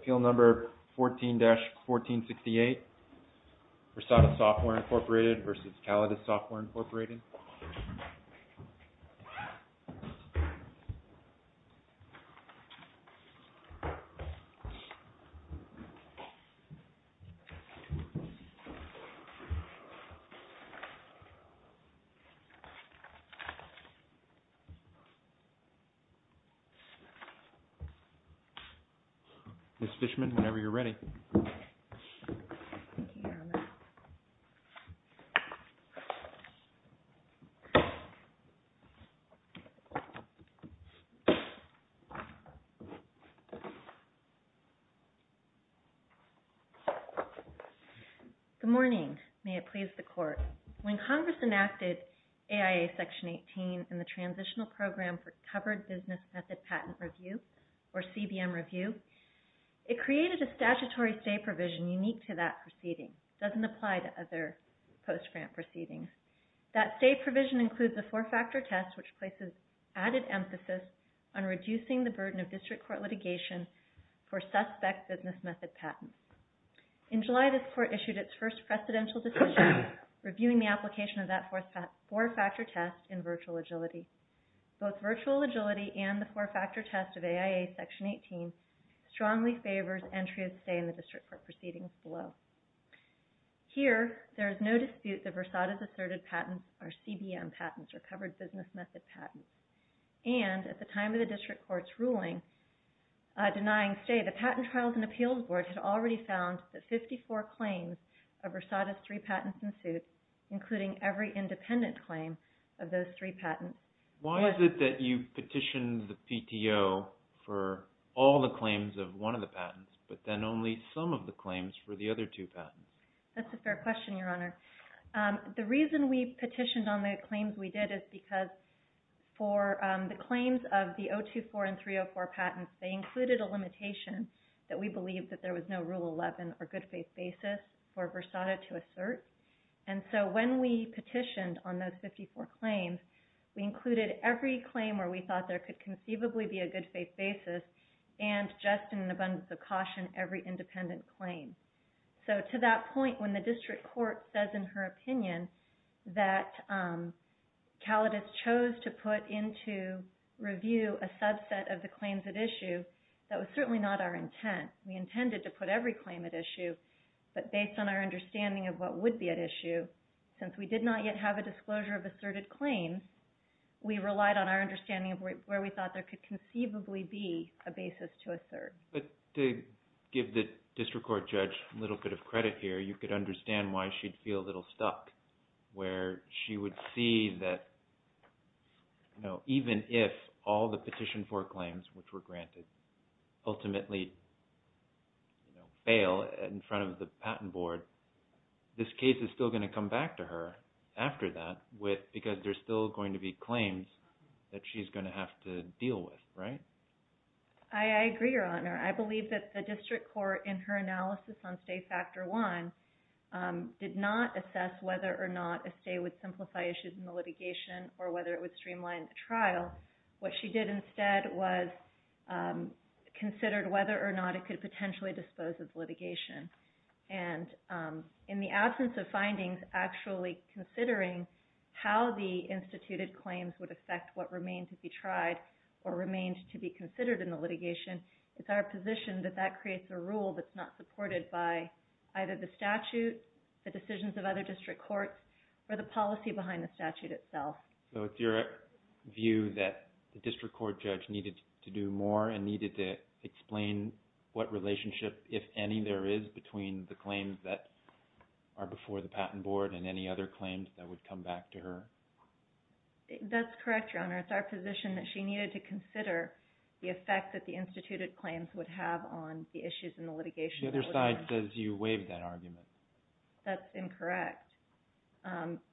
Appeal Number 14-1468, Versata Software, Inc. v. Callidus Software, Inc. Ms. Fishman, whenever you're ready. Good morning. May it please the Court. When Congress enacted AIA Section 18 in the Transitional Program for Covered Business Method Patent Review, or CBM Review, it created a statutory stay provision unique to that proceeding. It doesn't apply to other post-grant proceedings. That stay provision includes a four-factor test which places added emphasis on reducing the burden of district court litigation for suspect business method patents. In July, this Court issued its first precedential decision reviewing the application of that four-factor test in virtual agility. Both virtual agility and the four-factor test of AIA Section 18 strongly favors entry of stay in the district court proceedings below. Here, there is no dispute that Versata's asserted patents are CBM patents, or covered business method patents. And at the time of the district court's ruling denying stay, the Patent Trials and Appeals Board had already found that 54 claims of Versata's three patents ensued, including every independent claim of those three patents. Why is it that you petitioned the PTO for all the claims of one of the patents, but then only some of the claims for the other two patents? That's a fair question, Your Honor. The reason we petitioned on the claims we did is because for the claims of the 024 and 304 patents, they included a limitation that we believed that there was no Rule 11 or good faith basis for Versata to assert. And so when we petitioned on those 54 claims, we included every claim where we thought there could conceivably be a good faith basis and just in abundance of caution, every independent claim. So to that point, when the district court says in her opinion that Calidice chose to put into review a subset of the claims at issue, that was certainly not our intent. We intended to put every claim at issue. But based on our understanding of what would be at issue, since we did not yet have a disclosure of asserted claims, we relied on our understanding of where we thought there could conceivably be a basis to assert. But to give the district court judge a little bit of credit here, you could understand why she'd feel a little stuck, where she would see that even if all the petitioned for claims, which were granted, ultimately fail in front of the patent board, this case is still going to come back to her after that because there's still going to be claims that she's going to have to deal with, right? I agree, Your Honor. I believe that the district court in her analysis on stay factor one did not assess whether or not a stay would simplify issues in the litigation or whether it would streamline the trial. What she did instead was considered whether or not it could potentially dispose of litigation. And in the absence of findings actually considering how the instituted claims would affect what remained to be tried or remained to be considered in the litigation, it's our position that that creates a rule that's not supported by either the statute, the decisions of other district courts, or the policy behind the statute itself. So it's your view that the district court judge needed to do more and needed to explain what relationship, if any, there is between the claims that are before the patent board and any other claims that would come back to her? That's correct, Your Honor. It's our position that she needed to consider the effect that the instituted claims would have on the issues in the litigation. The other side says you waived that argument. That's incorrect.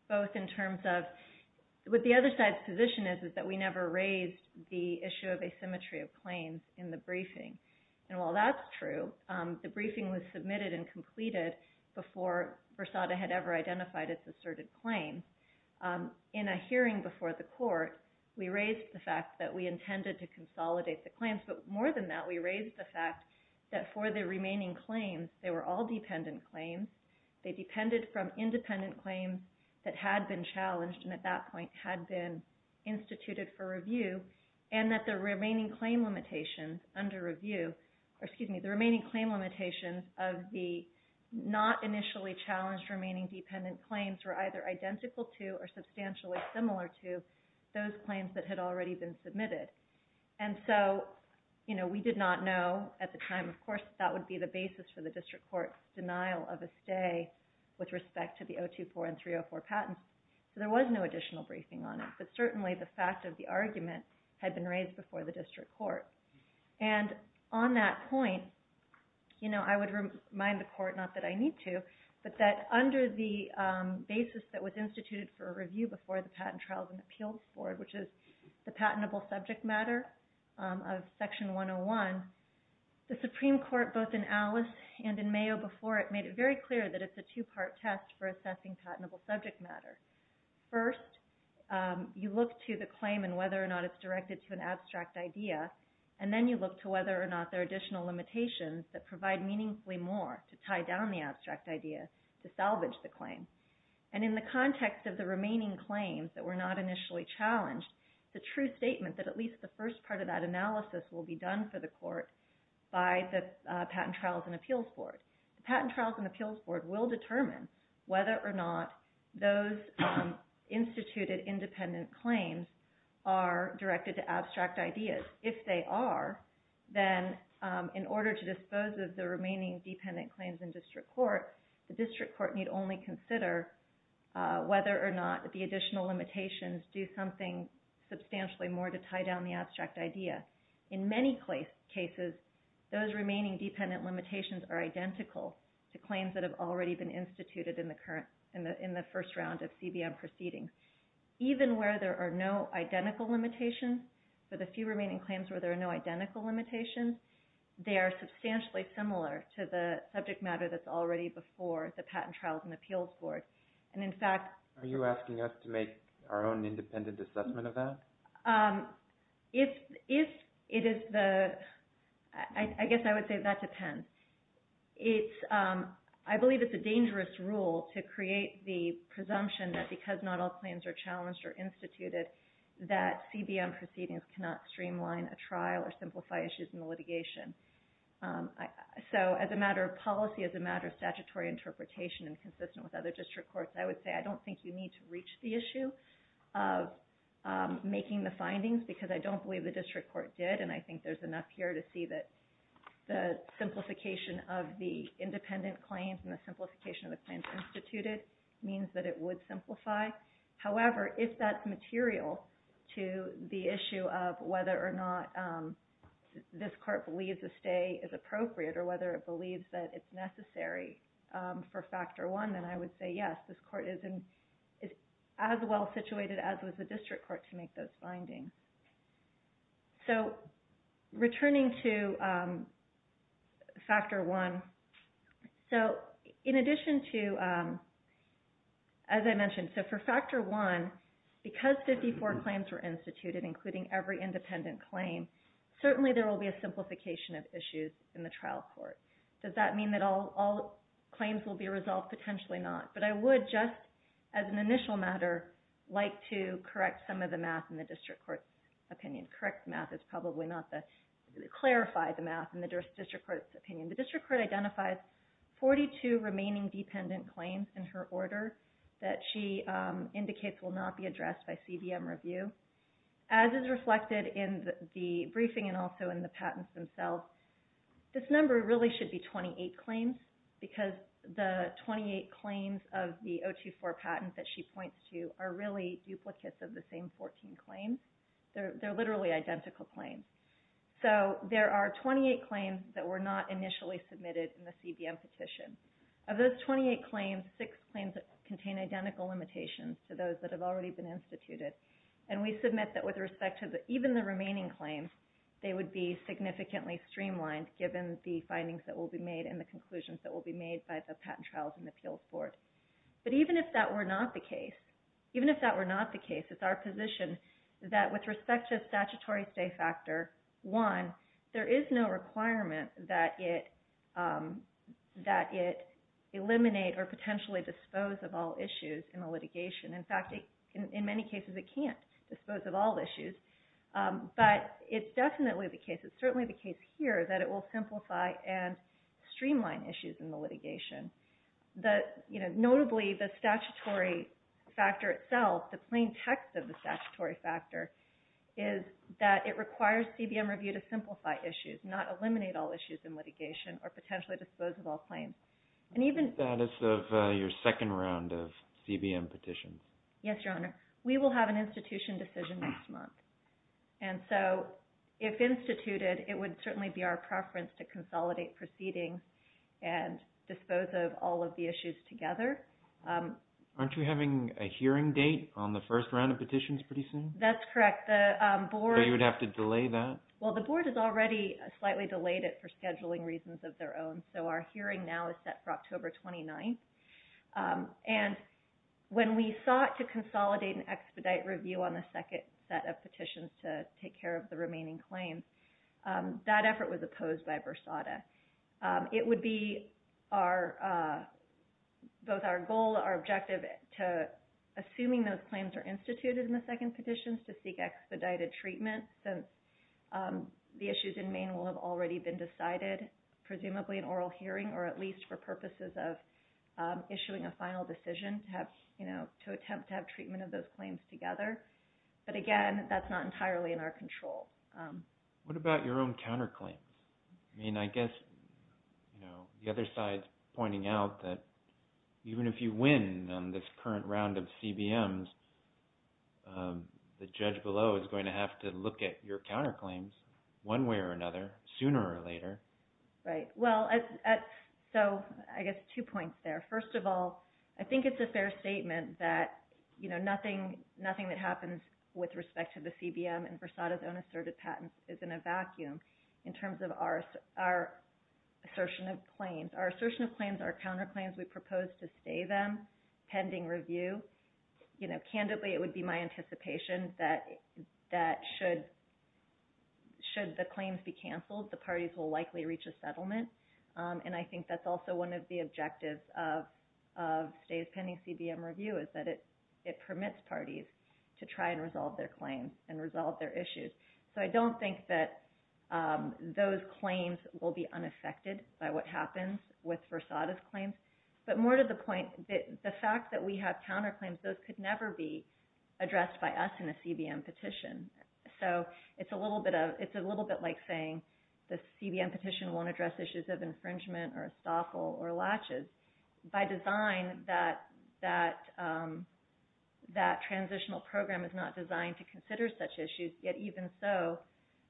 Both in terms of what the other side's position is is that we never raised the issue of asymmetry of claims in the briefing. And while that's true, the briefing was submitted and completed before Versada had ever identified its asserted claims. In a hearing before the court, we raised the fact that we intended to consolidate the claims. But more than that, we raised the fact that for the remaining claims, they were all dependent claims. They depended from independent claims that had been challenged and at that point had been instituted for review, and that the remaining claim limitations under review, or excuse me, the remaining claim limitations of the not initially challenged remaining dependent claims were either identical to or substantially similar to those claims that had already been submitted. And so, you know, we did not know at the time, of course, that would be the basis for the district court's denial of a stay with respect to the 024 and 304 patents. So there was no additional briefing on it, but certainly the fact of the argument had been raised before the district court. And on that point, you know, I would remind the court, not that I need to, but that under the basis that was instituted for review before the Patent Trials and Appeals Board, which is the patentable subject matter of Section 101, the Supreme Court, both in Alice and in Mayo before it, made it very clear that it's a two-part test for assessing patentable subject matter. First, you look to the claim and whether or not it's directed to an abstract idea, and then you look to whether or not there are additional limitations that provide meaningfully more to tie down the abstract idea to salvage the claim. And in the context of the remaining claims that were not initially challenged, it's a true statement that at least the first part of that analysis will be done for the court by the Patent Trials and Appeals Board. The Patent Trials and Appeals Board will determine whether or not those instituted independent claims are directed to abstract ideas. If they are, then in order to dispose of the remaining dependent claims in district court, the district court need only consider whether or not the additional limitations do something substantially more to tie down the abstract idea. In many cases, those remaining dependent limitations are identical to claims that have already been instituted in the first round of CBM proceedings. Even where there are no identical limitations, for the few remaining claims where there are no identical limitations, they are substantially similar to the subject matter that's already before the Patent Trials and Appeals Board. Are you asking us to make our own independent assessment of that? I guess I would say that depends. I believe it's a dangerous rule to create the presumption that because not all claims are challenged or instituted, that CBM proceedings cannot streamline a trial or simplify issues in the litigation. As a matter of policy, as a matter of statutory interpretation and consistent with other district courts, I would say I don't think you need to reach the issue of making the findings because I don't believe the district court did. I think there's enough here to see that the simplification of the independent claims and the simplification of the claims instituted means that it would simplify. However, if that's material to the issue of whether or not this court believes a stay is appropriate or whether it believes that it's necessary for Factor I, then I would say yes, this court is as well situated as was the district court to make those findings. Returning to Factor I, as I mentioned, for Factor I, because 54 claims were instituted, including every independent claim, certainly there will be a simplification of issues in the trial court. Does that mean that all claims will be resolved? Potentially not. But I would just, as an initial matter, like to correct some of the math in the district court's opinion. Correct math is probably not to clarify the math in the district court's opinion. The district court identifies 42 remaining dependent claims in her order that she indicates will not be addressed by CBM review. As is reflected in the briefing and also in the patents themselves, this number really should be 28 claims because the 28 claims of the 024 patent that she points to are really duplicates of the same 14 claims. They're literally identical claims. So there are 28 claims that were not initially submitted in the CBM petition. Of those 28 claims, six claims contain identical limitations to those that have already been instituted. And we submit that with respect to even the remaining claims, they would be significantly streamlined given the findings that will be made and the conclusions that will be made by the patent trials and appeals board. But even if that were not the case, it's our position that with respect to a statutory stay factor, one, there is no requirement that it eliminate or potentially dispose of all issues in a litigation. In fact, in many cases it can't dispose of all issues. But it's definitely the case, it's certainly the case here that it will simplify and streamline issues in the litigation. Notably, the statutory factor itself, the plain text of the statutory factor is that it requires CBM review to simplify issues, not eliminate all issues in litigation or potentially dispose of all claims. And even... That is your second round of CBM petitions. Yes, Your Honor. We will have an institution decision next month. And so if instituted, it would certainly be our preference to consolidate proceedings and dispose of all of the issues together. Aren't you having a hearing date on the first round of petitions pretty soon? That's correct. The board... So you would have to delay that? Well, the board has already slightly delayed it for scheduling reasons of their own. So our hearing now is set for October 29th. And when we sought to consolidate and expedite review on the second set of petitions to take care of the remaining claims, that effort was opposed by Versada. It would be our... Both our goal, our objective to... Assuming those claims are instituted in the second petitions to seek expedited treatment since the issues in Maine will have already been decided, presumably an oral hearing or at least for purposes of issuing a final decision to attempt to have treatment of those claims together. But again, that's not entirely in our control. What about your own counterclaims? I mean, I guess the other side's pointing out that even if you win on this current round of CBMs, the judge below is going to have to look at your counterclaims one way or another, sooner or later. Right. Well, so I guess two points there. First of all, I think it's a fair statement that nothing that happens with respect to the CBM and Versada's own assertive patents is in a vacuum in terms of our assertion of claims. Our assertion of claims, our counterclaims, we propose to stay them pending review. Candidly, it would be my anticipation that should the claims be canceled, the parties will likely reach a settlement. And I think that's also one of the objectives of stays pending CBM review is that it permits parties to try and resolve their claims and resolve their issues. So I don't think that those claims will be unaffected by what happens with Versada's claims. But more to the point, the fact that we have counterclaims, those could never be addressed by us in a CBM petition. So it's a little bit like saying the CBM petition won't address issues of infringement or estoffel or latches. By design, that transitional program is not designed to consider such issues. Yet even so,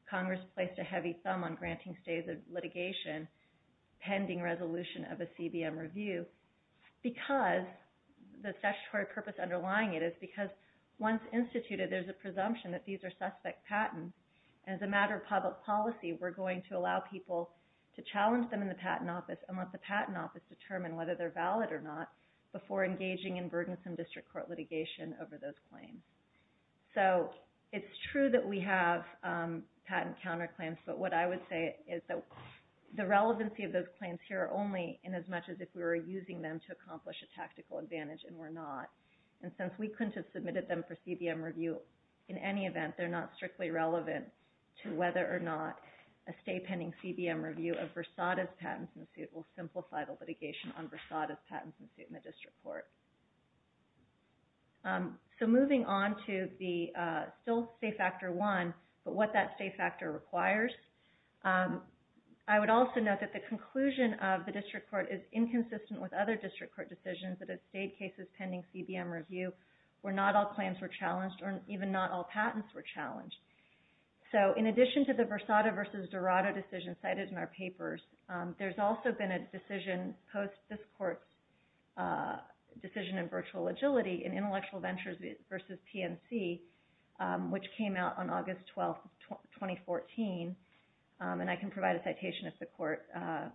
Congress placed a heavy thumb on granting stays of litigation pending resolution of a CBM review. Because the statutory purpose underlying it is because once instituted, there's a presumption that these are suspect patents. As a matter of public policy, we're going to allow people to challenge them in the patent office and let the patent office determine whether they're valid or not before engaging in burdensome district court litigation over those claims. So it's true that we have patent counterclaims. But what I would say is that the relevancy of those claims here are only in as much as if we were using them to accomplish a tactical advantage, and we're not. And since we couldn't have submitted them for CBM review in any event, they're not strictly relevant to whether or not a stay pending CBM review of Versada's patents in suit will simplify the litigation on Versada's patents in suit in the district court. So moving on to the still stay factor one, but what that stay factor requires. I would also note that the conclusion of the district court is inconsistent with other district court decisions that have stayed cases pending CBM review where not all claims were challenged or even not all patents were challenged. So in addition to the Versada v. Dorado decision cited in our papers, there's also been a decision post this court's decision in virtual agility in Intellectual Ventures v. PNC, which came out on August 12, 2014, and I can provide a citation if the court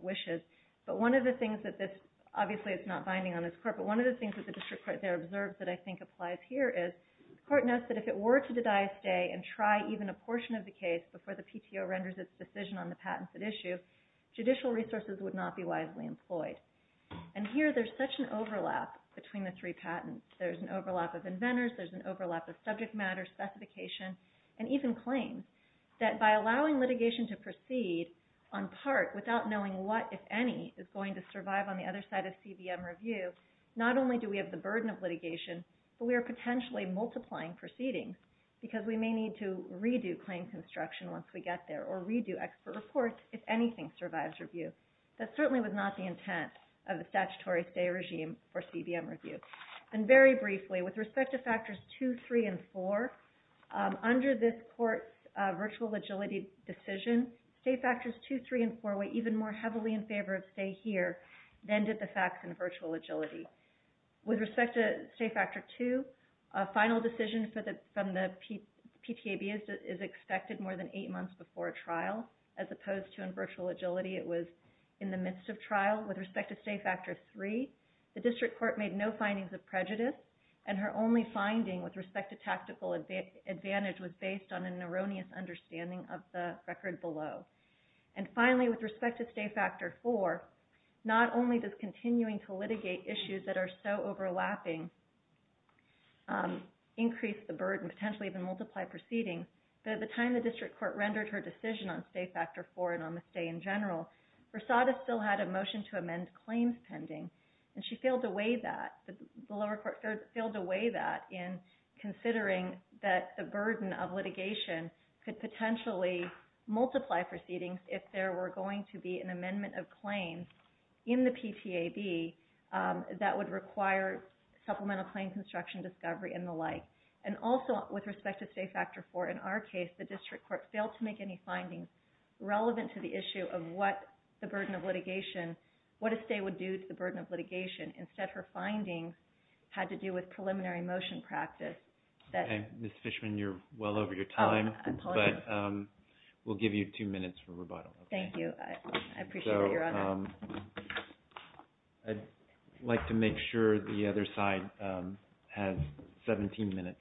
wishes. But one of the things that this, obviously it's not binding on this court, but one of the things that the district court there observed that I think applies here is the court notes that if it were to dedie a stay and try even a portion of the case before the PTO renders its decision on the patents at issue, judicial resources would not be wisely employed. And here there's such an overlap between the three patents. There's an overlap of inventors, there's an overlap of subject matter, specification, and even claims, that by allowing litigation to proceed on part without knowing what, if any, is going to survive on the other side of CBM review, not only do we have the burden of litigation, but we are potentially multiplying proceedings because we may need to redo claim construction once we get there or redo expert reports if anything survives review. That certainly was not the intent of the statutory stay regime for CBM review. And very briefly, with respect to factors two, three, and four, under this court's virtual agility decision, stay factors two, three, and four were even more heavily in favor of stay here than did the facts in virtual agility. With respect to stay factor two, a final decision from the PTAB is expected more than eight months before trial, as opposed to in virtual agility it was in the midst of trial. With respect to stay factor three, the district court made no findings of prejudice, and her only finding with respect to tactical advantage was based on an erroneous understanding of the record below. And finally, with respect to stay factor four, not only does continuing to litigate issues that are so overlapping increase the burden, potentially even multiply proceedings, but at the time the district court rendered her decision on stay factor four and on the stay in general, Rosada still had a motion to amend claims pending, and she failed to weigh that. The lower court failed to weigh that in considering that the burden of litigation could potentially multiply proceedings if there were going to be an amendment of claims in the PTAB that would require supplemental claim construction discovery and the like. And also with respect to stay factor four, in our case, the district court failed to make any findings relevant to the issue of what the burden of litigation, what a stay would do to the burden of litigation. Instead, her findings had to do with preliminary motion practice. Mr. Fishman, you're well over your time, but we'll give you two minutes for rebuttal. Thank you. I appreciate it, Your Honor. I'd like to make sure the other side has 17 minutes.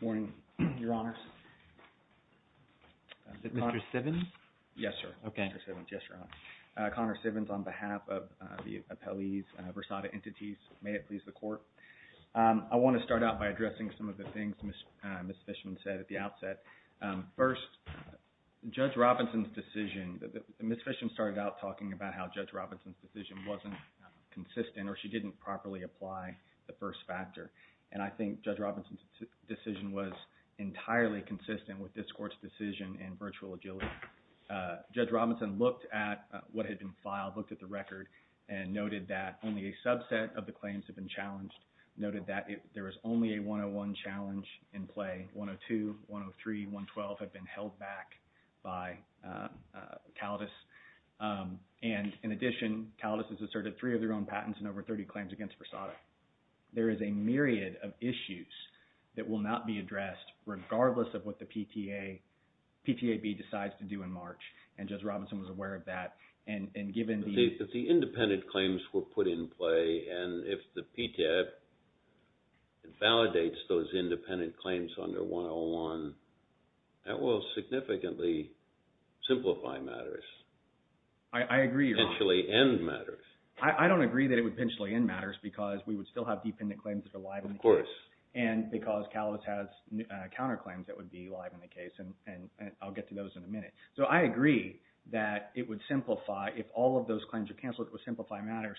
Good morning, Your Honors. Is it Mr. Sivins? Yes, sir. Okay. Mr. Sivins, yes, Your Honor. Connor Sivins on behalf of the appellees, Rosada entities. May it please the Court. I want to start out by addressing some of the things Ms. Fishman said at the outset. First, Judge Robinson's decision. Ms. Fishman started out talking about how Judge Robinson's decision wasn't consistent or she didn't properly apply the first factor. And I think Judge Robinson's decision was entirely consistent with this Court's decision in virtual agility. Judge Robinson looked at what had been filed, looked at the record, and noted that only a subset of the claims had been challenged, noted that there is only a 101 challenge in play. 102, 103, 112 have been held back by CALDIS. And in addition, CALDIS has asserted three of their own patents and over 30 claims against Rosada. There is a myriad of issues that will not be addressed regardless of what the PTAB decides to do in March, and Judge Robinson was aware of that. But the independent claims were put in play, and if the PTAB validates those independent claims under 101, that will significantly simplify matters. I agree. Potentially end matters. I don't agree that it would potentially end matters because we would still have dependent claims that are live in the case. Of course. And because CALDIS has counterclaims that would be live in the case, and I'll get to those in a minute. So I agree that it would simplify if all of those claims are canceled, it would simplify matters.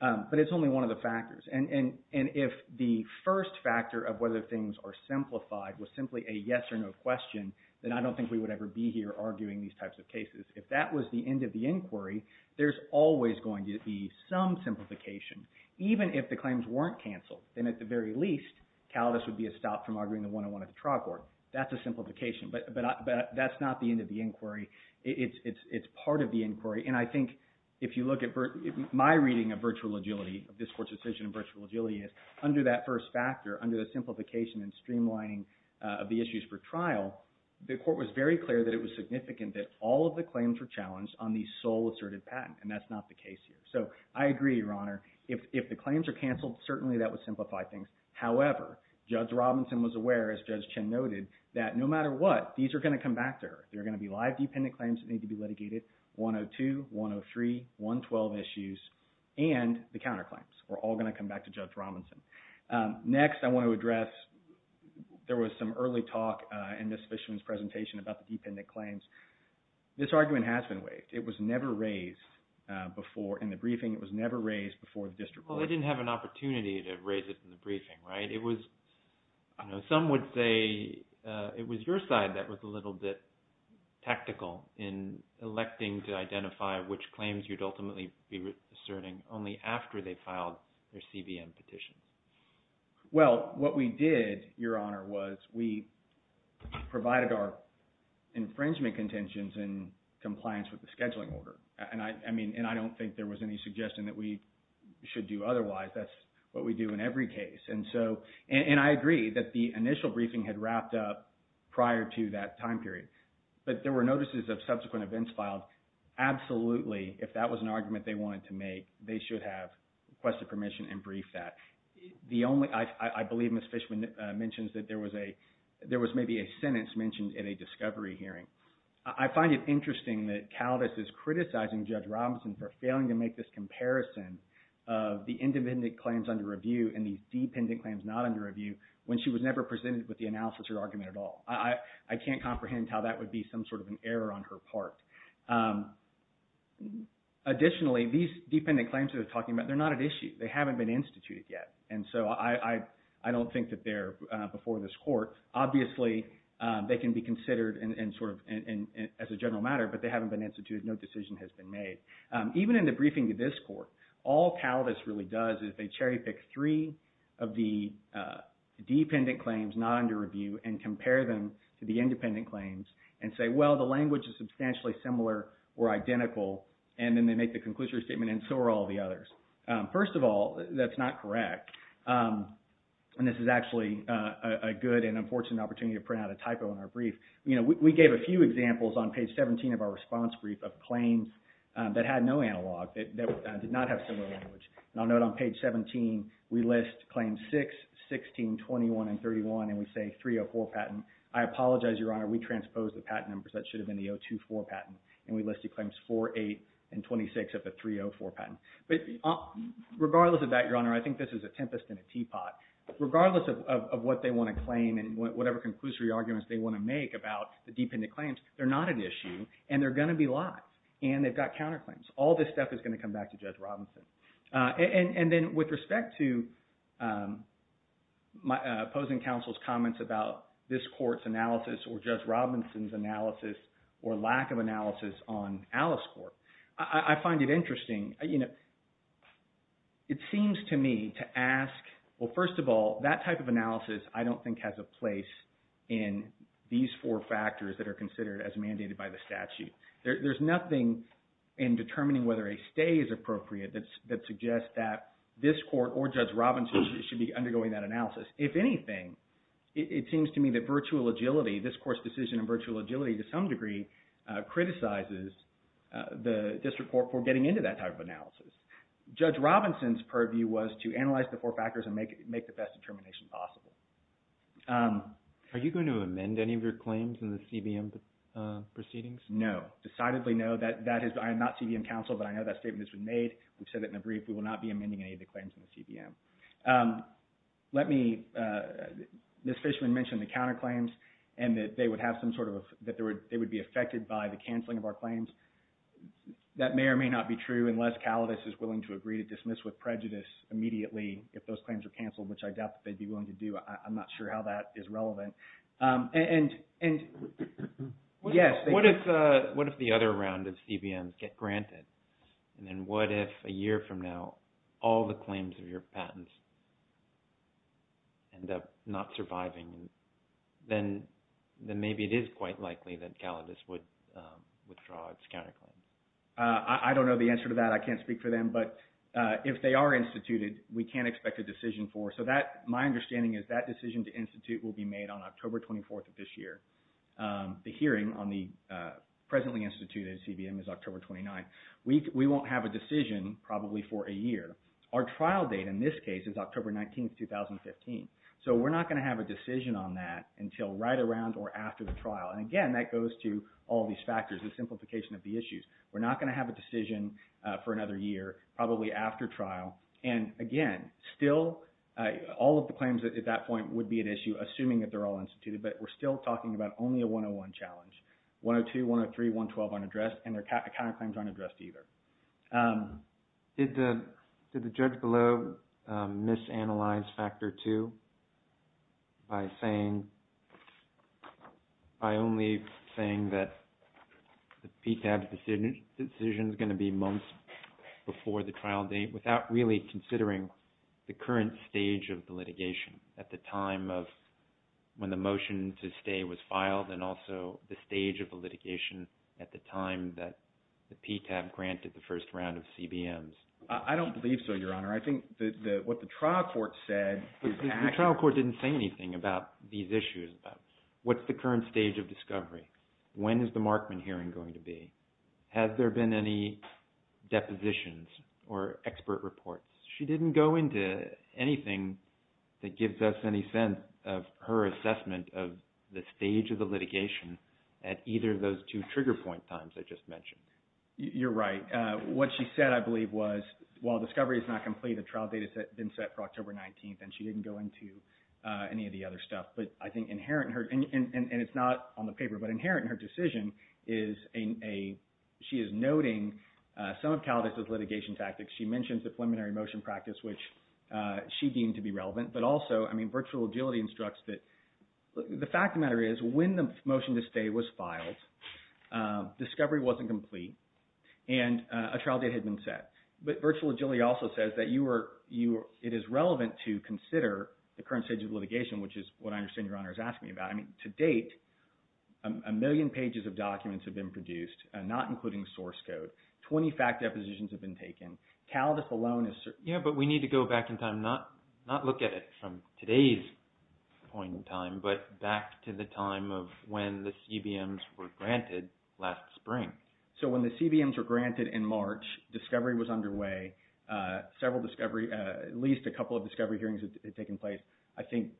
But it's only one of the factors. And if the first factor of whether things are simplified was simply a yes or no question, then I don't think we would ever be here arguing these types of cases. If that was the end of the inquiry, there's always going to be some simplification. Even if the claims weren't canceled, then at the very least, CALDIS would be a stop from arguing the 101 at the trial court. That's a simplification. But that's not the end of the inquiry. It's part of the inquiry. And I think if you look at my reading of virtual agility, of this Court's decision of virtual agility, is under that first factor, under the simplification and streamlining of the issues for trial, the Court was very clear that it was significant that all of the claims were challenged on the sole asserted patent, and that's not the case here. So I agree, Your Honor. If the claims are canceled, certainly that would simplify things. However, Judge Robinson was aware, as Judge Chin noted, that no matter what, these are going to come back to her. There are going to be live dependent claims that need to be litigated, 102, 103, 112 issues, and the counterclaims are all going to come back to Judge Robinson. Next, I want to address – there was some early talk in Ms. Fishman's presentation about the dependent claims. This argument has been waived. It was never raised before in the briefing. It was never raised before the district court. Well, they didn't have an opportunity to raise it in the briefing, right? It was – some would say it was your side that was a little bit tactical in electing to identify which claims you'd ultimately be asserting only after they filed their CBM petitions. Well, what we did, Your Honor, was we provided our infringement contentions in compliance with the scheduling order. And I don't think there was any suggestion that we should do otherwise. That's what we do in every case. And so – and I agree that the initial briefing had wrapped up prior to that time period. But there were notices of subsequent events filed. Absolutely, if that was an argument they wanted to make, they should have requested permission and briefed that. The only – I believe Ms. Fishman mentions that there was maybe a sentence mentioned in a discovery hearing. I find it interesting that Caldas is criticizing Judge Robinson for failing to make this comparison of the independent claims under review and these dependent claims not under review when she was never presented with the analysis or argument at all. I can't comprehend how that would be some sort of an error on her part. Additionally, these dependent claims that they're talking about, they're not at issue. They haven't been instituted yet. And so I don't think that they're before this court. Obviously, they can be considered as a general matter, but they haven't been instituted. No decision has been made. Even in the briefing to this court, all Caldas really does is they cherry pick three of the dependent claims not under review and compare them to the independent claims and say, well, the language is substantially similar or identical. And then they make the conclusion statement and so are all the others. First of all, that's not correct. And this is actually a good and unfortunate opportunity to print out a typo in our brief. We gave a few examples on page 17 of our response brief of claims that had no analog, that did not have similar language. And I'll note on page 17, we list claims 6, 16, 21, and 31, and we say 304 patent. I apologize, Your Honor. We transposed the patent numbers. That should have been the 024 patent. And we listed claims 4, 8, and 26 of the 304 patent. But regardless of that, Your Honor, I think this is a tempest in a teapot. Regardless of what they want to claim and whatever conclusory arguments they want to make about the dependent claims, they're not an issue and they're going to be lied. And they've got counterclaims. All this stuff is going to come back to Judge Robinson. And then with respect to opposing counsel's comments about this court's analysis or Judge Robinson's analysis or lack of analysis on Alice Court, I find it interesting. It seems to me to ask, well, first of all, that type of analysis I don't think has a place in these four factors that are considered as mandated by the statute. There's nothing in determining whether a stay is appropriate that suggests that this court or Judge Robinson should be undergoing that analysis. If anything, it seems to me that virtual agility, this court's decision in virtual agility, to some degree, criticizes the district court for getting into that type of analysis. Judge Robinson's purview was to analyze the four factors and make the best determination possible. Are you going to amend any of your claims in the CBM proceedings? No. Decidedly no. I am not CBM counsel, but I know that statement has been made. We've said it in a brief. We will not be amending any of the claims in the CBM. Let me – Ms. Fishman mentioned the counterclaims and that they would have some sort of – that they would be affected by the canceling of our claims. That may or may not be true unless Calidice is willing to agree to dismiss with prejudice immediately if those claims are canceled, which I doubt that they'd be willing to do. I'm not sure how that is relevant. What if the other round of CBMs get granted? And then what if a year from now all the claims of your patents end up not surviving? Then maybe it is quite likely that Calidice would withdraw its counterclaims. I don't know the answer to that. I can't speak for them. But if they are instituted, we can't expect a decision for it. So that – my understanding is that decision to institute will be made on October 24th of this year. The hearing on the presently instituted CBM is October 29th. We won't have a decision probably for a year. Our trial date in this case is October 19th, 2015. So we're not going to have a decision on that until right around or after the trial. And again, that goes to all these factors, the simplification of the issues. We're not going to have a decision for another year, probably after trial. And again, still all of the claims at that point would be an issue assuming that they're all instituted. But we're still talking about only a 101 challenge. 102, 103, 112 aren't addressed and their counterclaims aren't addressed either. Did the judge below misanalyze Factor 2 by saying – by only saying that the PTAB's decision is going to be months before the trial date without really considering the current stage of the litigation at the time of when the motion to stay was filed and also the stage of the litigation at the time that the PTAB granted the first round of CBMs? I don't believe so, Your Honor. I think what the trial court said is – The trial court didn't say anything about these issues. What's the current stage of discovery? When is the Markman hearing going to be? Has there been any depositions or expert reports? She didn't go into anything that gives us any sense of her assessment of the stage of the litigation at either of those two trigger point times I just mentioned. You're right. What she said, I believe, was while discovery is not complete, a trial date has been set for October 19th, and she didn't go into any of the other stuff. But I think inherent in her – and it's not on the paper, but inherent in her decision is a – she is noting some of Caldas' litigation tactics. She mentions the preliminary motion practice, which she deemed to be relevant. But also, I mean, virtual agility instructs that – the fact of the matter is when the motion to stay was filed, discovery wasn't complete, and a trial date had been set. But virtual agility also says that you are – it is relevant to consider the current stage of litigation, which is what I understand Your Honor is asking me about. I mean, to date, a million pages of documents have been produced, not including source code. Twenty fact depositions have been taken. Caldas alone is – Yeah, but we need to go back in time, not look at it from today's point in time, but back to the time of when the CBMs were granted last spring. So when the CBMs were granted in March, discovery was underway, several discovery – at least a couple of discovery hearings had taken place. I think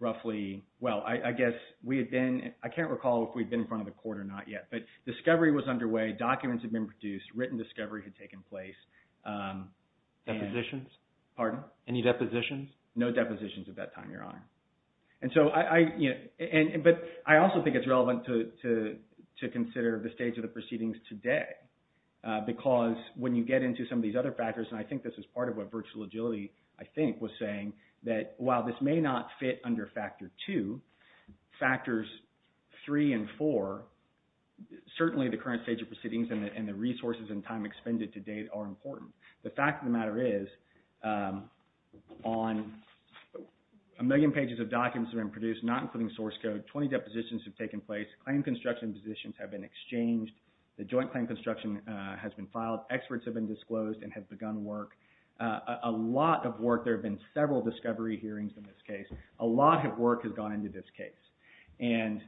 roughly – well, I guess we had been – I can't recall if we had been in front of the court or not yet. But discovery was underway, documents had been produced, written discovery had taken place. Depositions? Pardon? Any depositions? No depositions at that time, Your Honor. And so I – but I also think it's relevant to consider the stage of the proceedings today because when you get into some of these other factors, and I think this is part of what Virtual Agility, I think, was saying, that while this may not fit under Factor 2, Factors 3 and 4, certainly the current stage of proceedings and the resources and time expended to date are important. The fact of the matter is on a million pages of documents that have been produced, not including source code, 20 depositions have taken place. Claim construction positions have been exchanged. The joint claim construction has been filed. Experts have been disclosed and have begun work. A lot of work – there have been several discovery hearings in this case. A lot of work has gone into this case. And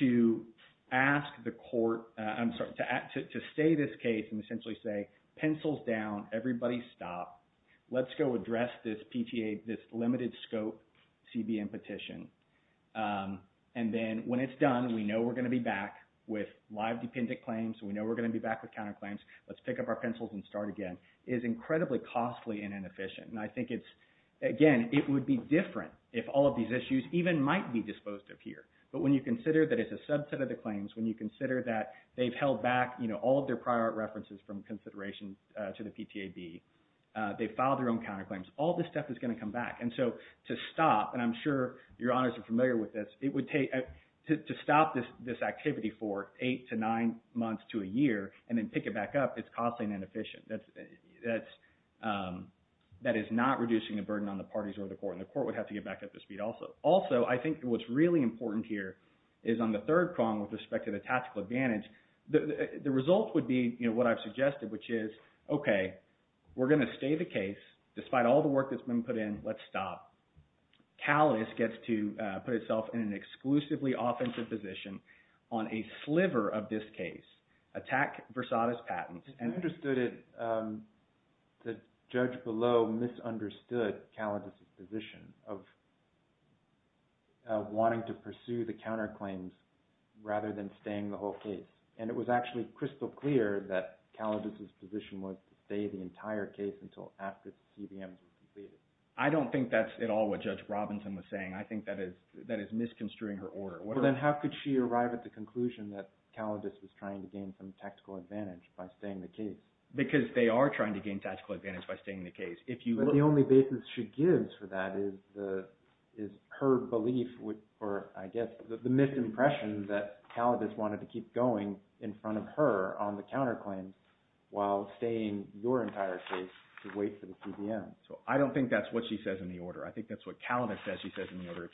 to ask the court – I'm sorry, to say this case and essentially say, pencils down, everybody stop, let's go address this PTA, this limited scope CBM petition, and then when it's done, we know we're going to be back with live dependent claims, we know we're going to be back with counterclaims, let's pick up our pencils and start again, is incredibly costly and inefficient. And I think it's – again, it would be different if all of these issues even might be disposed of here. But when you consider that it's a subset of the claims, when you consider that they've held back, you know, all of their prior art references from consideration to the PTAB, they filed their own counterclaims, all this stuff is going to come back. And so to stop, and I'm sure your honors are familiar with this, it would take – to stop this activity for eight to nine months to a year and then pick it back up, it's costly and inefficient. That is not reducing the burden on the parties or the court, and the court would have to get back up to speed also. Also, I think what's really important here is on the third prong with respect to the tactical advantage, the result would be what I've suggested, which is, okay, we're going to stay the case, despite all the work that's been put in, let's stop. CALIS gets to put itself in an exclusively offensive position on a sliver of this case, attack Versada's patents. I understood it, the judge below misunderstood Calis' position of wanting to pursue the counterclaims rather than staying the whole case. And it was actually crystal clear that Calis' position was to stay the entire case until after the CBMs were completed. I don't think that's at all what Judge Robinson was saying. I think that is misconstruing her order. Then how could she arrive at the conclusion that Calis was trying to gain some tactical advantage by staying the case? Because they are trying to gain tactical advantage by staying the case. But the only basis she gives for that is her belief, or I guess the misimpression, that Calis wanted to keep going in front of her on the counterclaims while staying your entire case to wait for the CBMs. I don't think that's what she says in the order. If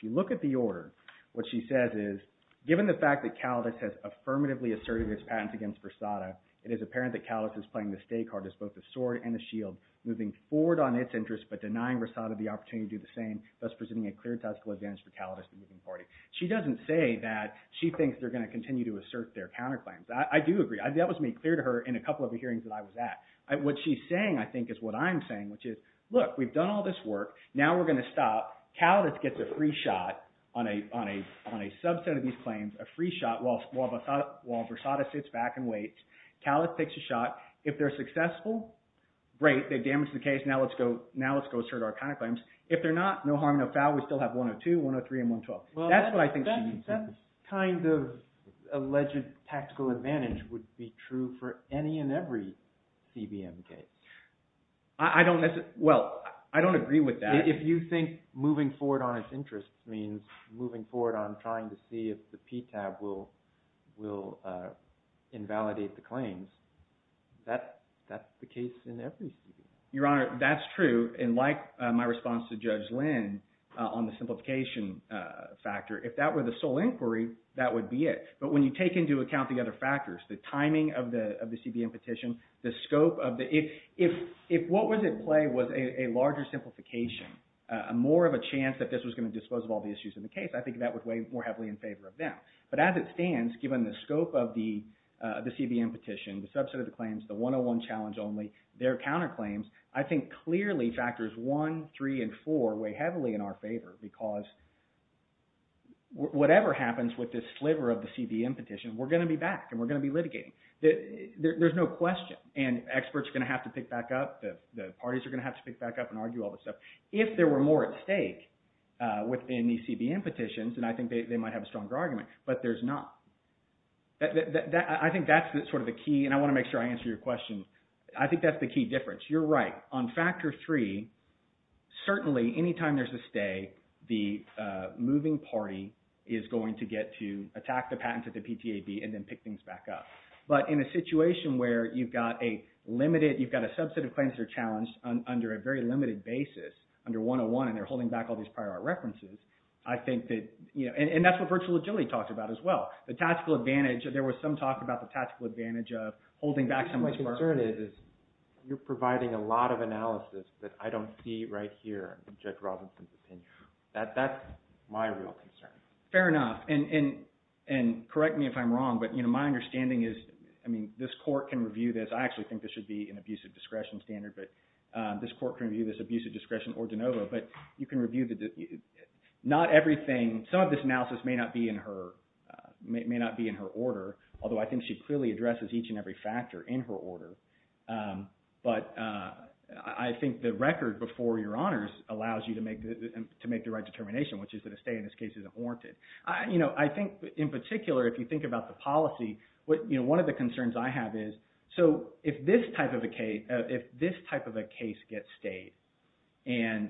you look at the order, what she says is, given the fact that Calis has affirmatively asserted its patents against Versada, it is apparent that Calis is playing the stake hard as both a sword and a shield, moving forward on its interests but denying Versada the opportunity to do the same, thus presenting a clear tactical advantage for Calis, the moving party. She doesn't say that she thinks they're going to continue to assert their counterclaims. I do agree. That was made clear to her in a couple of the hearings that I was at. What she's saying, I think, is what I'm saying, which is, look, we've done all this work. Now we're going to stop. Calis gets a free shot on a subset of these claims, a free shot while Versada sits back and waits. Calis takes a shot. If they're successful, great, they've damaged the case. Now let's go assert our counterclaims. If they're not, no harm, no foul. We still have 102, 103, and 112. That's what I think she means. That kind of alleged tactical advantage would be true for any and every CBM case. I don't – well, I don't agree with that. If you think moving forward on its interests means moving forward on trying to see if the PTAB will invalidate the claims, that's the case in every CBM. Your Honor, that's true, and like my response to Judge Lynn on the simplification factor, if that were the sole inquiry, that would be it. But when you take into account the other factors, the timing of the CBM petition, the scope of the – if what was at play was a larger simplification, more of a chance that this was going to dispose of all the issues in the case, I think that would weigh more heavily in favor of them. But as it stands, given the scope of the CBM petition, the subset of the claims, the 101 challenge only, their counterclaims, I think clearly factors one, three, and four weigh heavily in our favor because whatever happens with this sliver of the CBM petition, we're going to be back and we're going to be litigating. There's no question. And experts are going to have to pick back up. The parties are going to have to pick back up and argue all this stuff. If there were more at stake within these CBM petitions, then I think they might have a stronger argument, but there's not. I think that's sort of the key, and I want to make sure I answer your question. I think that's the key difference. You're right. On factor three, certainly anytime there's a stay, the moving party is going to get to attack the patent to the PTAB and then pick things back up. But in a situation where you've got a limited, you've got a subset of claims that are challenged under a very limited basis, under 101 and they're holding back all these prior art references, I think that, and that's what virtual agility talks about as well. The tactical advantage, there was some talk about the tactical advantage of holding back some of these parties. My concern is you're providing a lot of analysis that I don't see right here, in Judge Robinson's opinion. That's my real concern. Fair enough, and correct me if I'm wrong, but my understanding is, I mean, this court can review this. I actually think this should be an abusive discretion standard, but this court can review this abusive discretion or de novo, but you can review the, not everything, some of this analysis may not be in her order, although I think she clearly addresses each and every factor in her order. But I think the record before your honors allows you to make the right determination, which is that a stay in this case is warranted. I think in particular, if you think about the policy, one of the concerns I have is, so if this type of a case gets stayed, and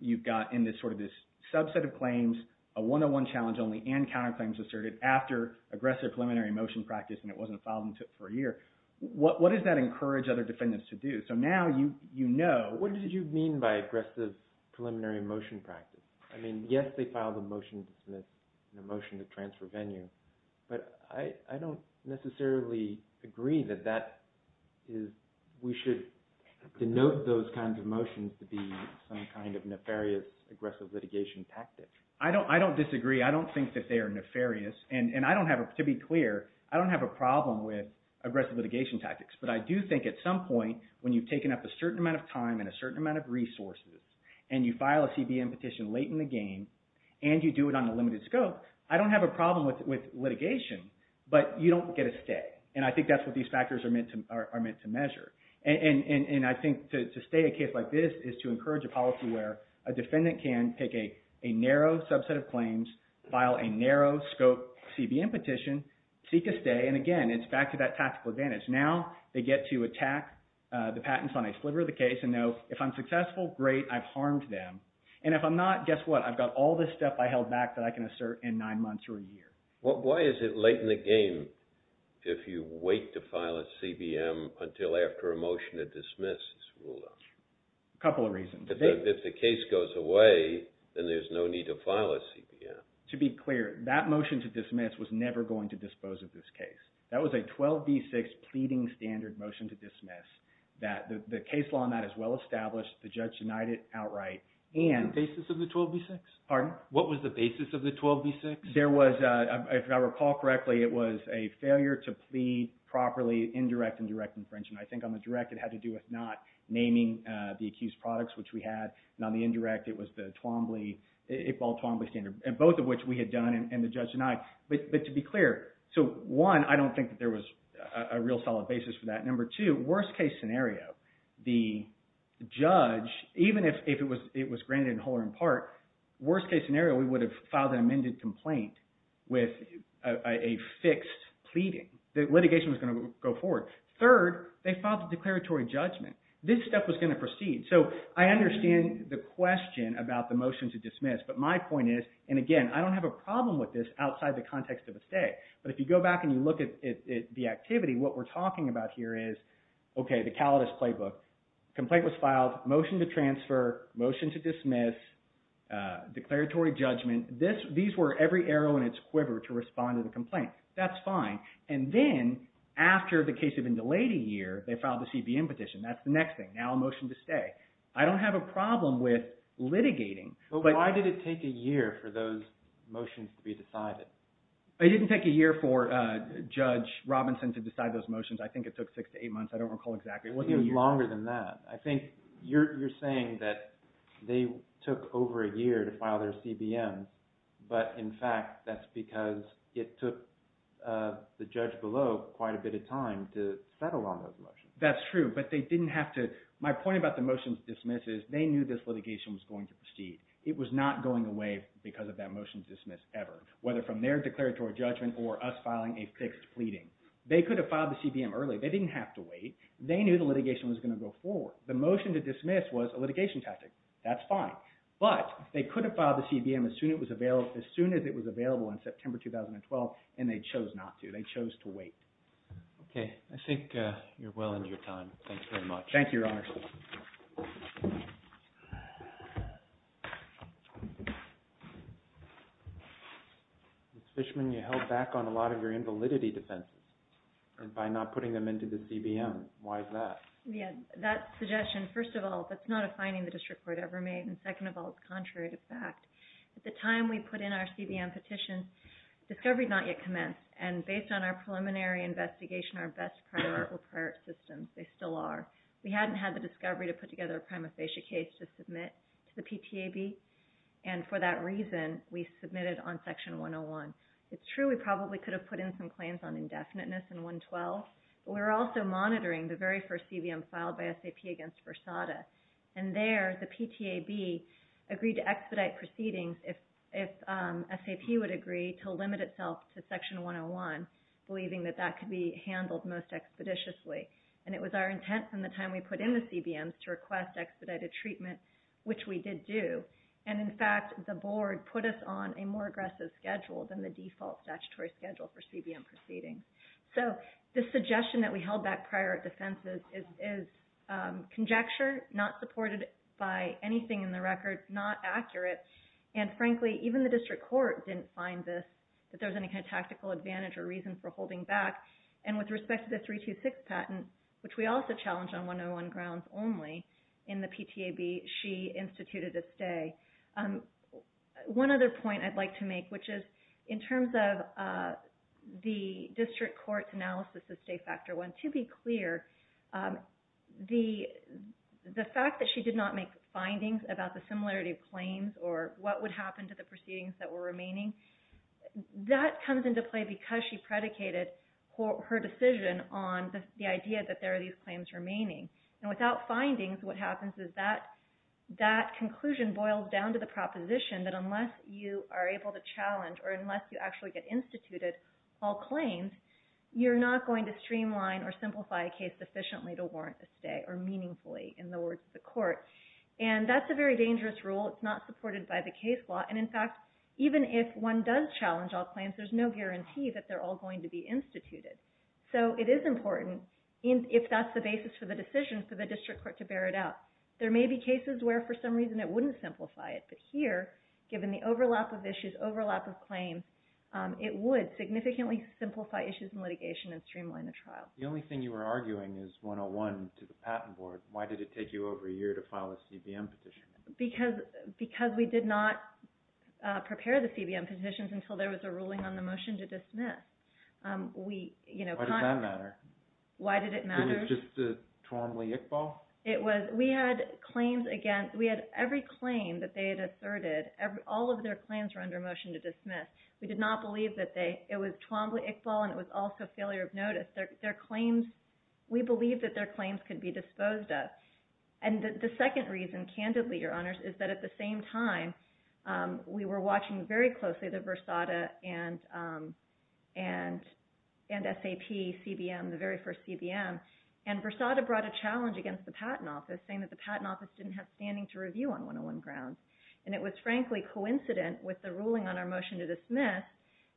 you've got in this sort of this subset of claims, a 101 challenge only and counterclaims asserted after aggressive preliminary motion practice and it wasn't filed for a year, what does that encourage other defendants to do? So now you know. What did you mean by aggressive preliminary motion practice? I mean, yes, they filed a motion to transfer venue, but I don't necessarily agree that that is, we should denote those kinds of motions to be some kind of nefarious aggressive litigation tactic. I don't disagree. I don't think that they are nefarious, and I don't have, to be clear, I don't have a problem with aggressive litigation tactics, but I do think at some point when you've taken up a certain amount of time and a certain amount of resources, and you file a CBN petition late in the game, and you do it on a limited scope, I don't have a problem with litigation, but you don't get a stay, and I think that's what these factors are meant to measure. And I think to stay a case like this is to encourage a policy where a defendant can pick a narrow subset of claims, file a narrow scope CBN petition, seek a stay, and again, it's back to that tactical advantage. Now they get to attack the patents on a sliver of the case and know if I'm successful, great, I've harmed them. And if I'm not, guess what? I've got all this stuff I held back that I can assert in nine months or a year. Why is it late in the game if you wait to file a CBN until after a motion to dismiss is ruled out? A couple of reasons. If the case goes away, then there's no need to file a CBN. To be clear, that motion to dismiss was never going to dispose of this case. That was a 12B6 pleading standard motion to dismiss. The case law on that is well established. The judge denied it outright. The basis of the 12B6? Pardon? What was the basis of the 12B6? If I recall correctly, it was a failure to plead properly indirect and direct infringement. I think on the direct, it had to do with not naming the accused products, which we had, and on the indirect, it was the Iqbal Twombly standard, both of which we had done, and the judge denied. But to be clear, so one, I don't think that there was a real solid basis for that. Number two, worst case scenario, the judge, even if it was granted in whole or in part, worst case scenario, we would have filed an amended complaint with a fixed pleading. The litigation was going to go forward. Third, they filed the declaratory judgment. This step was going to proceed. So I understand the question about the motion to dismiss, but my point is, and again, I don't have a problem with this outside the context of a stay. But if you go back and you look at the activity, what we're talking about here is, okay, the Calidus playbook. Complaint was filed, motion to transfer, motion to dismiss, declaratory judgment. These were every arrow in its quiver to respond to the complaint. That's fine. And then, after the case had been delayed a year, they filed the CBM petition. That's the next thing. Now a motion to stay. I don't have a problem with litigating. But why did it take a year for those motions to be decided? It didn't take a year for Judge Robinson to decide those motions. I think it took six to eight months. I don't recall exactly. It wasn't even longer than that. I think you're saying that they took over a year to file their CBMs, but in fact, that's because it took the judge below quite a bit of time to settle on those motions. That's true, but they didn't have to. My point about the motions to dismiss is they knew this litigation was going to proceed. It was not going away because of that motion to dismiss ever, whether from their declaratory judgment or us filing a fixed pleading. They could have filed the CBM early. They didn't have to wait. They knew the litigation was going to go forward. The motion to dismiss was a litigation tactic. That's fine, but they could have filed the CBM as soon as it was available in September 2012, They chose to wait. Okay. I think you're well into your time. Thank you very much. Thank you, Your Honor. Ms. Fishman, you held back on a lot of your invalidity defenses by not putting them into the CBM. Why is that? Yeah. That suggestion, first of all, that's not a finding the district court ever made, and second of all, it's contrary to fact. At the time we put in our CBM petition, discovery had not yet commenced, and based on our preliminary investigation, our best prior art were prior art systems. They still are. We hadn't had the discovery to put together a prima facie case to submit to the PTAB, and for that reason, we submitted on Section 101. It's true we probably could have put in some claims on indefiniteness in 112, but we were also monitoring the very first CBM filed by SAP against Versada, and there the PTAB agreed to expedite proceedings if SAP would agree to limit itself to Section 101, believing that that could be handled most expeditiously, and it was our intent from the time we put in the CBMs to request expedited treatment which we did do, and in fact, the board put us on a more aggressive schedule than the default statutory schedule for CBM proceedings. So the suggestion that we held back prior art defenses is conjecture, not supported by anything in the record, not accurate, and frankly, even the district court didn't find this, that there was any kind of tactical advantage or reason for holding back, and with respect to the 326 patent, which we also challenged on 101 grounds only, in the PTAB, she instituted a stay. One other point I'd like to make, which is, in terms of the district court's analysis of stay factor one, to be clear, the fact that she did not make findings about the similarity of claims, or what would happen to the proceedings that were remaining, that comes into play because she predicated her decision on the idea that there are these claims remaining, and without findings, what happens is that conclusion boils down to the proposition that unless you are able to challenge, or unless you actually get instituted all claims, you're not going to streamline or simplify a case sufficiently to warrant a stay, or meaningfully, in the words of the court, and that's a very dangerous rule. It's not supported by the case law, and in fact, even if one does challenge all claims, there's no guarantee that they're all going to be instituted, so it is important, if that's the basis for the decision, for the district court to bear it out. There may be cases where for some reason it wouldn't simplify it, but here, given the overlap of issues, overlap of claims, it would significantly simplify issues in litigation and streamline the trial. The only thing you were arguing is 101 to the patent board. Why did it take you over a year to file a CBM petition? Because we did not prepare the CBM petitions until there was a ruling on the motion to dismiss. Why did that matter? Why did it matter? Could you just repeat the question? Was it Twombly-Iqbal? It was, we had claims against, we had every claim that they had asserted, all of their claims were under motion to dismiss. We did not believe that they, it was Twombly-Iqbal and it was also failure of notice. Their claims, we believe that their claims could be disposed of. And the second reason, candidly, your honors, is that at the same time, we were watching very closely the Versada and SAP CBM, the very first CBM, and Versada brought a challenge against the Patent Office saying that the Patent Office didn't have standing to review on 101 grounds. And it was, frankly, coincident with the ruling on our motion to dismiss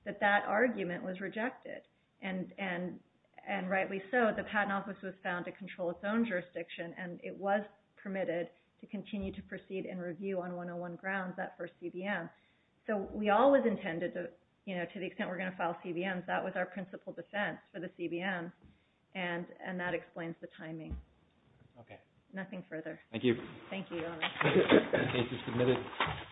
that that argument was rejected. And rightly so, the Patent Office was found to control its own jurisdiction and it was permitted to continue to proceed and review on 101 grounds that first CBM. So we all was intended to, you know, to the extent we're going to file CBMs, that was our principal defense for the CBM. And that explains the timing. Okay. Nothing further. Thank you. Thank you, your honors. The case is submitted.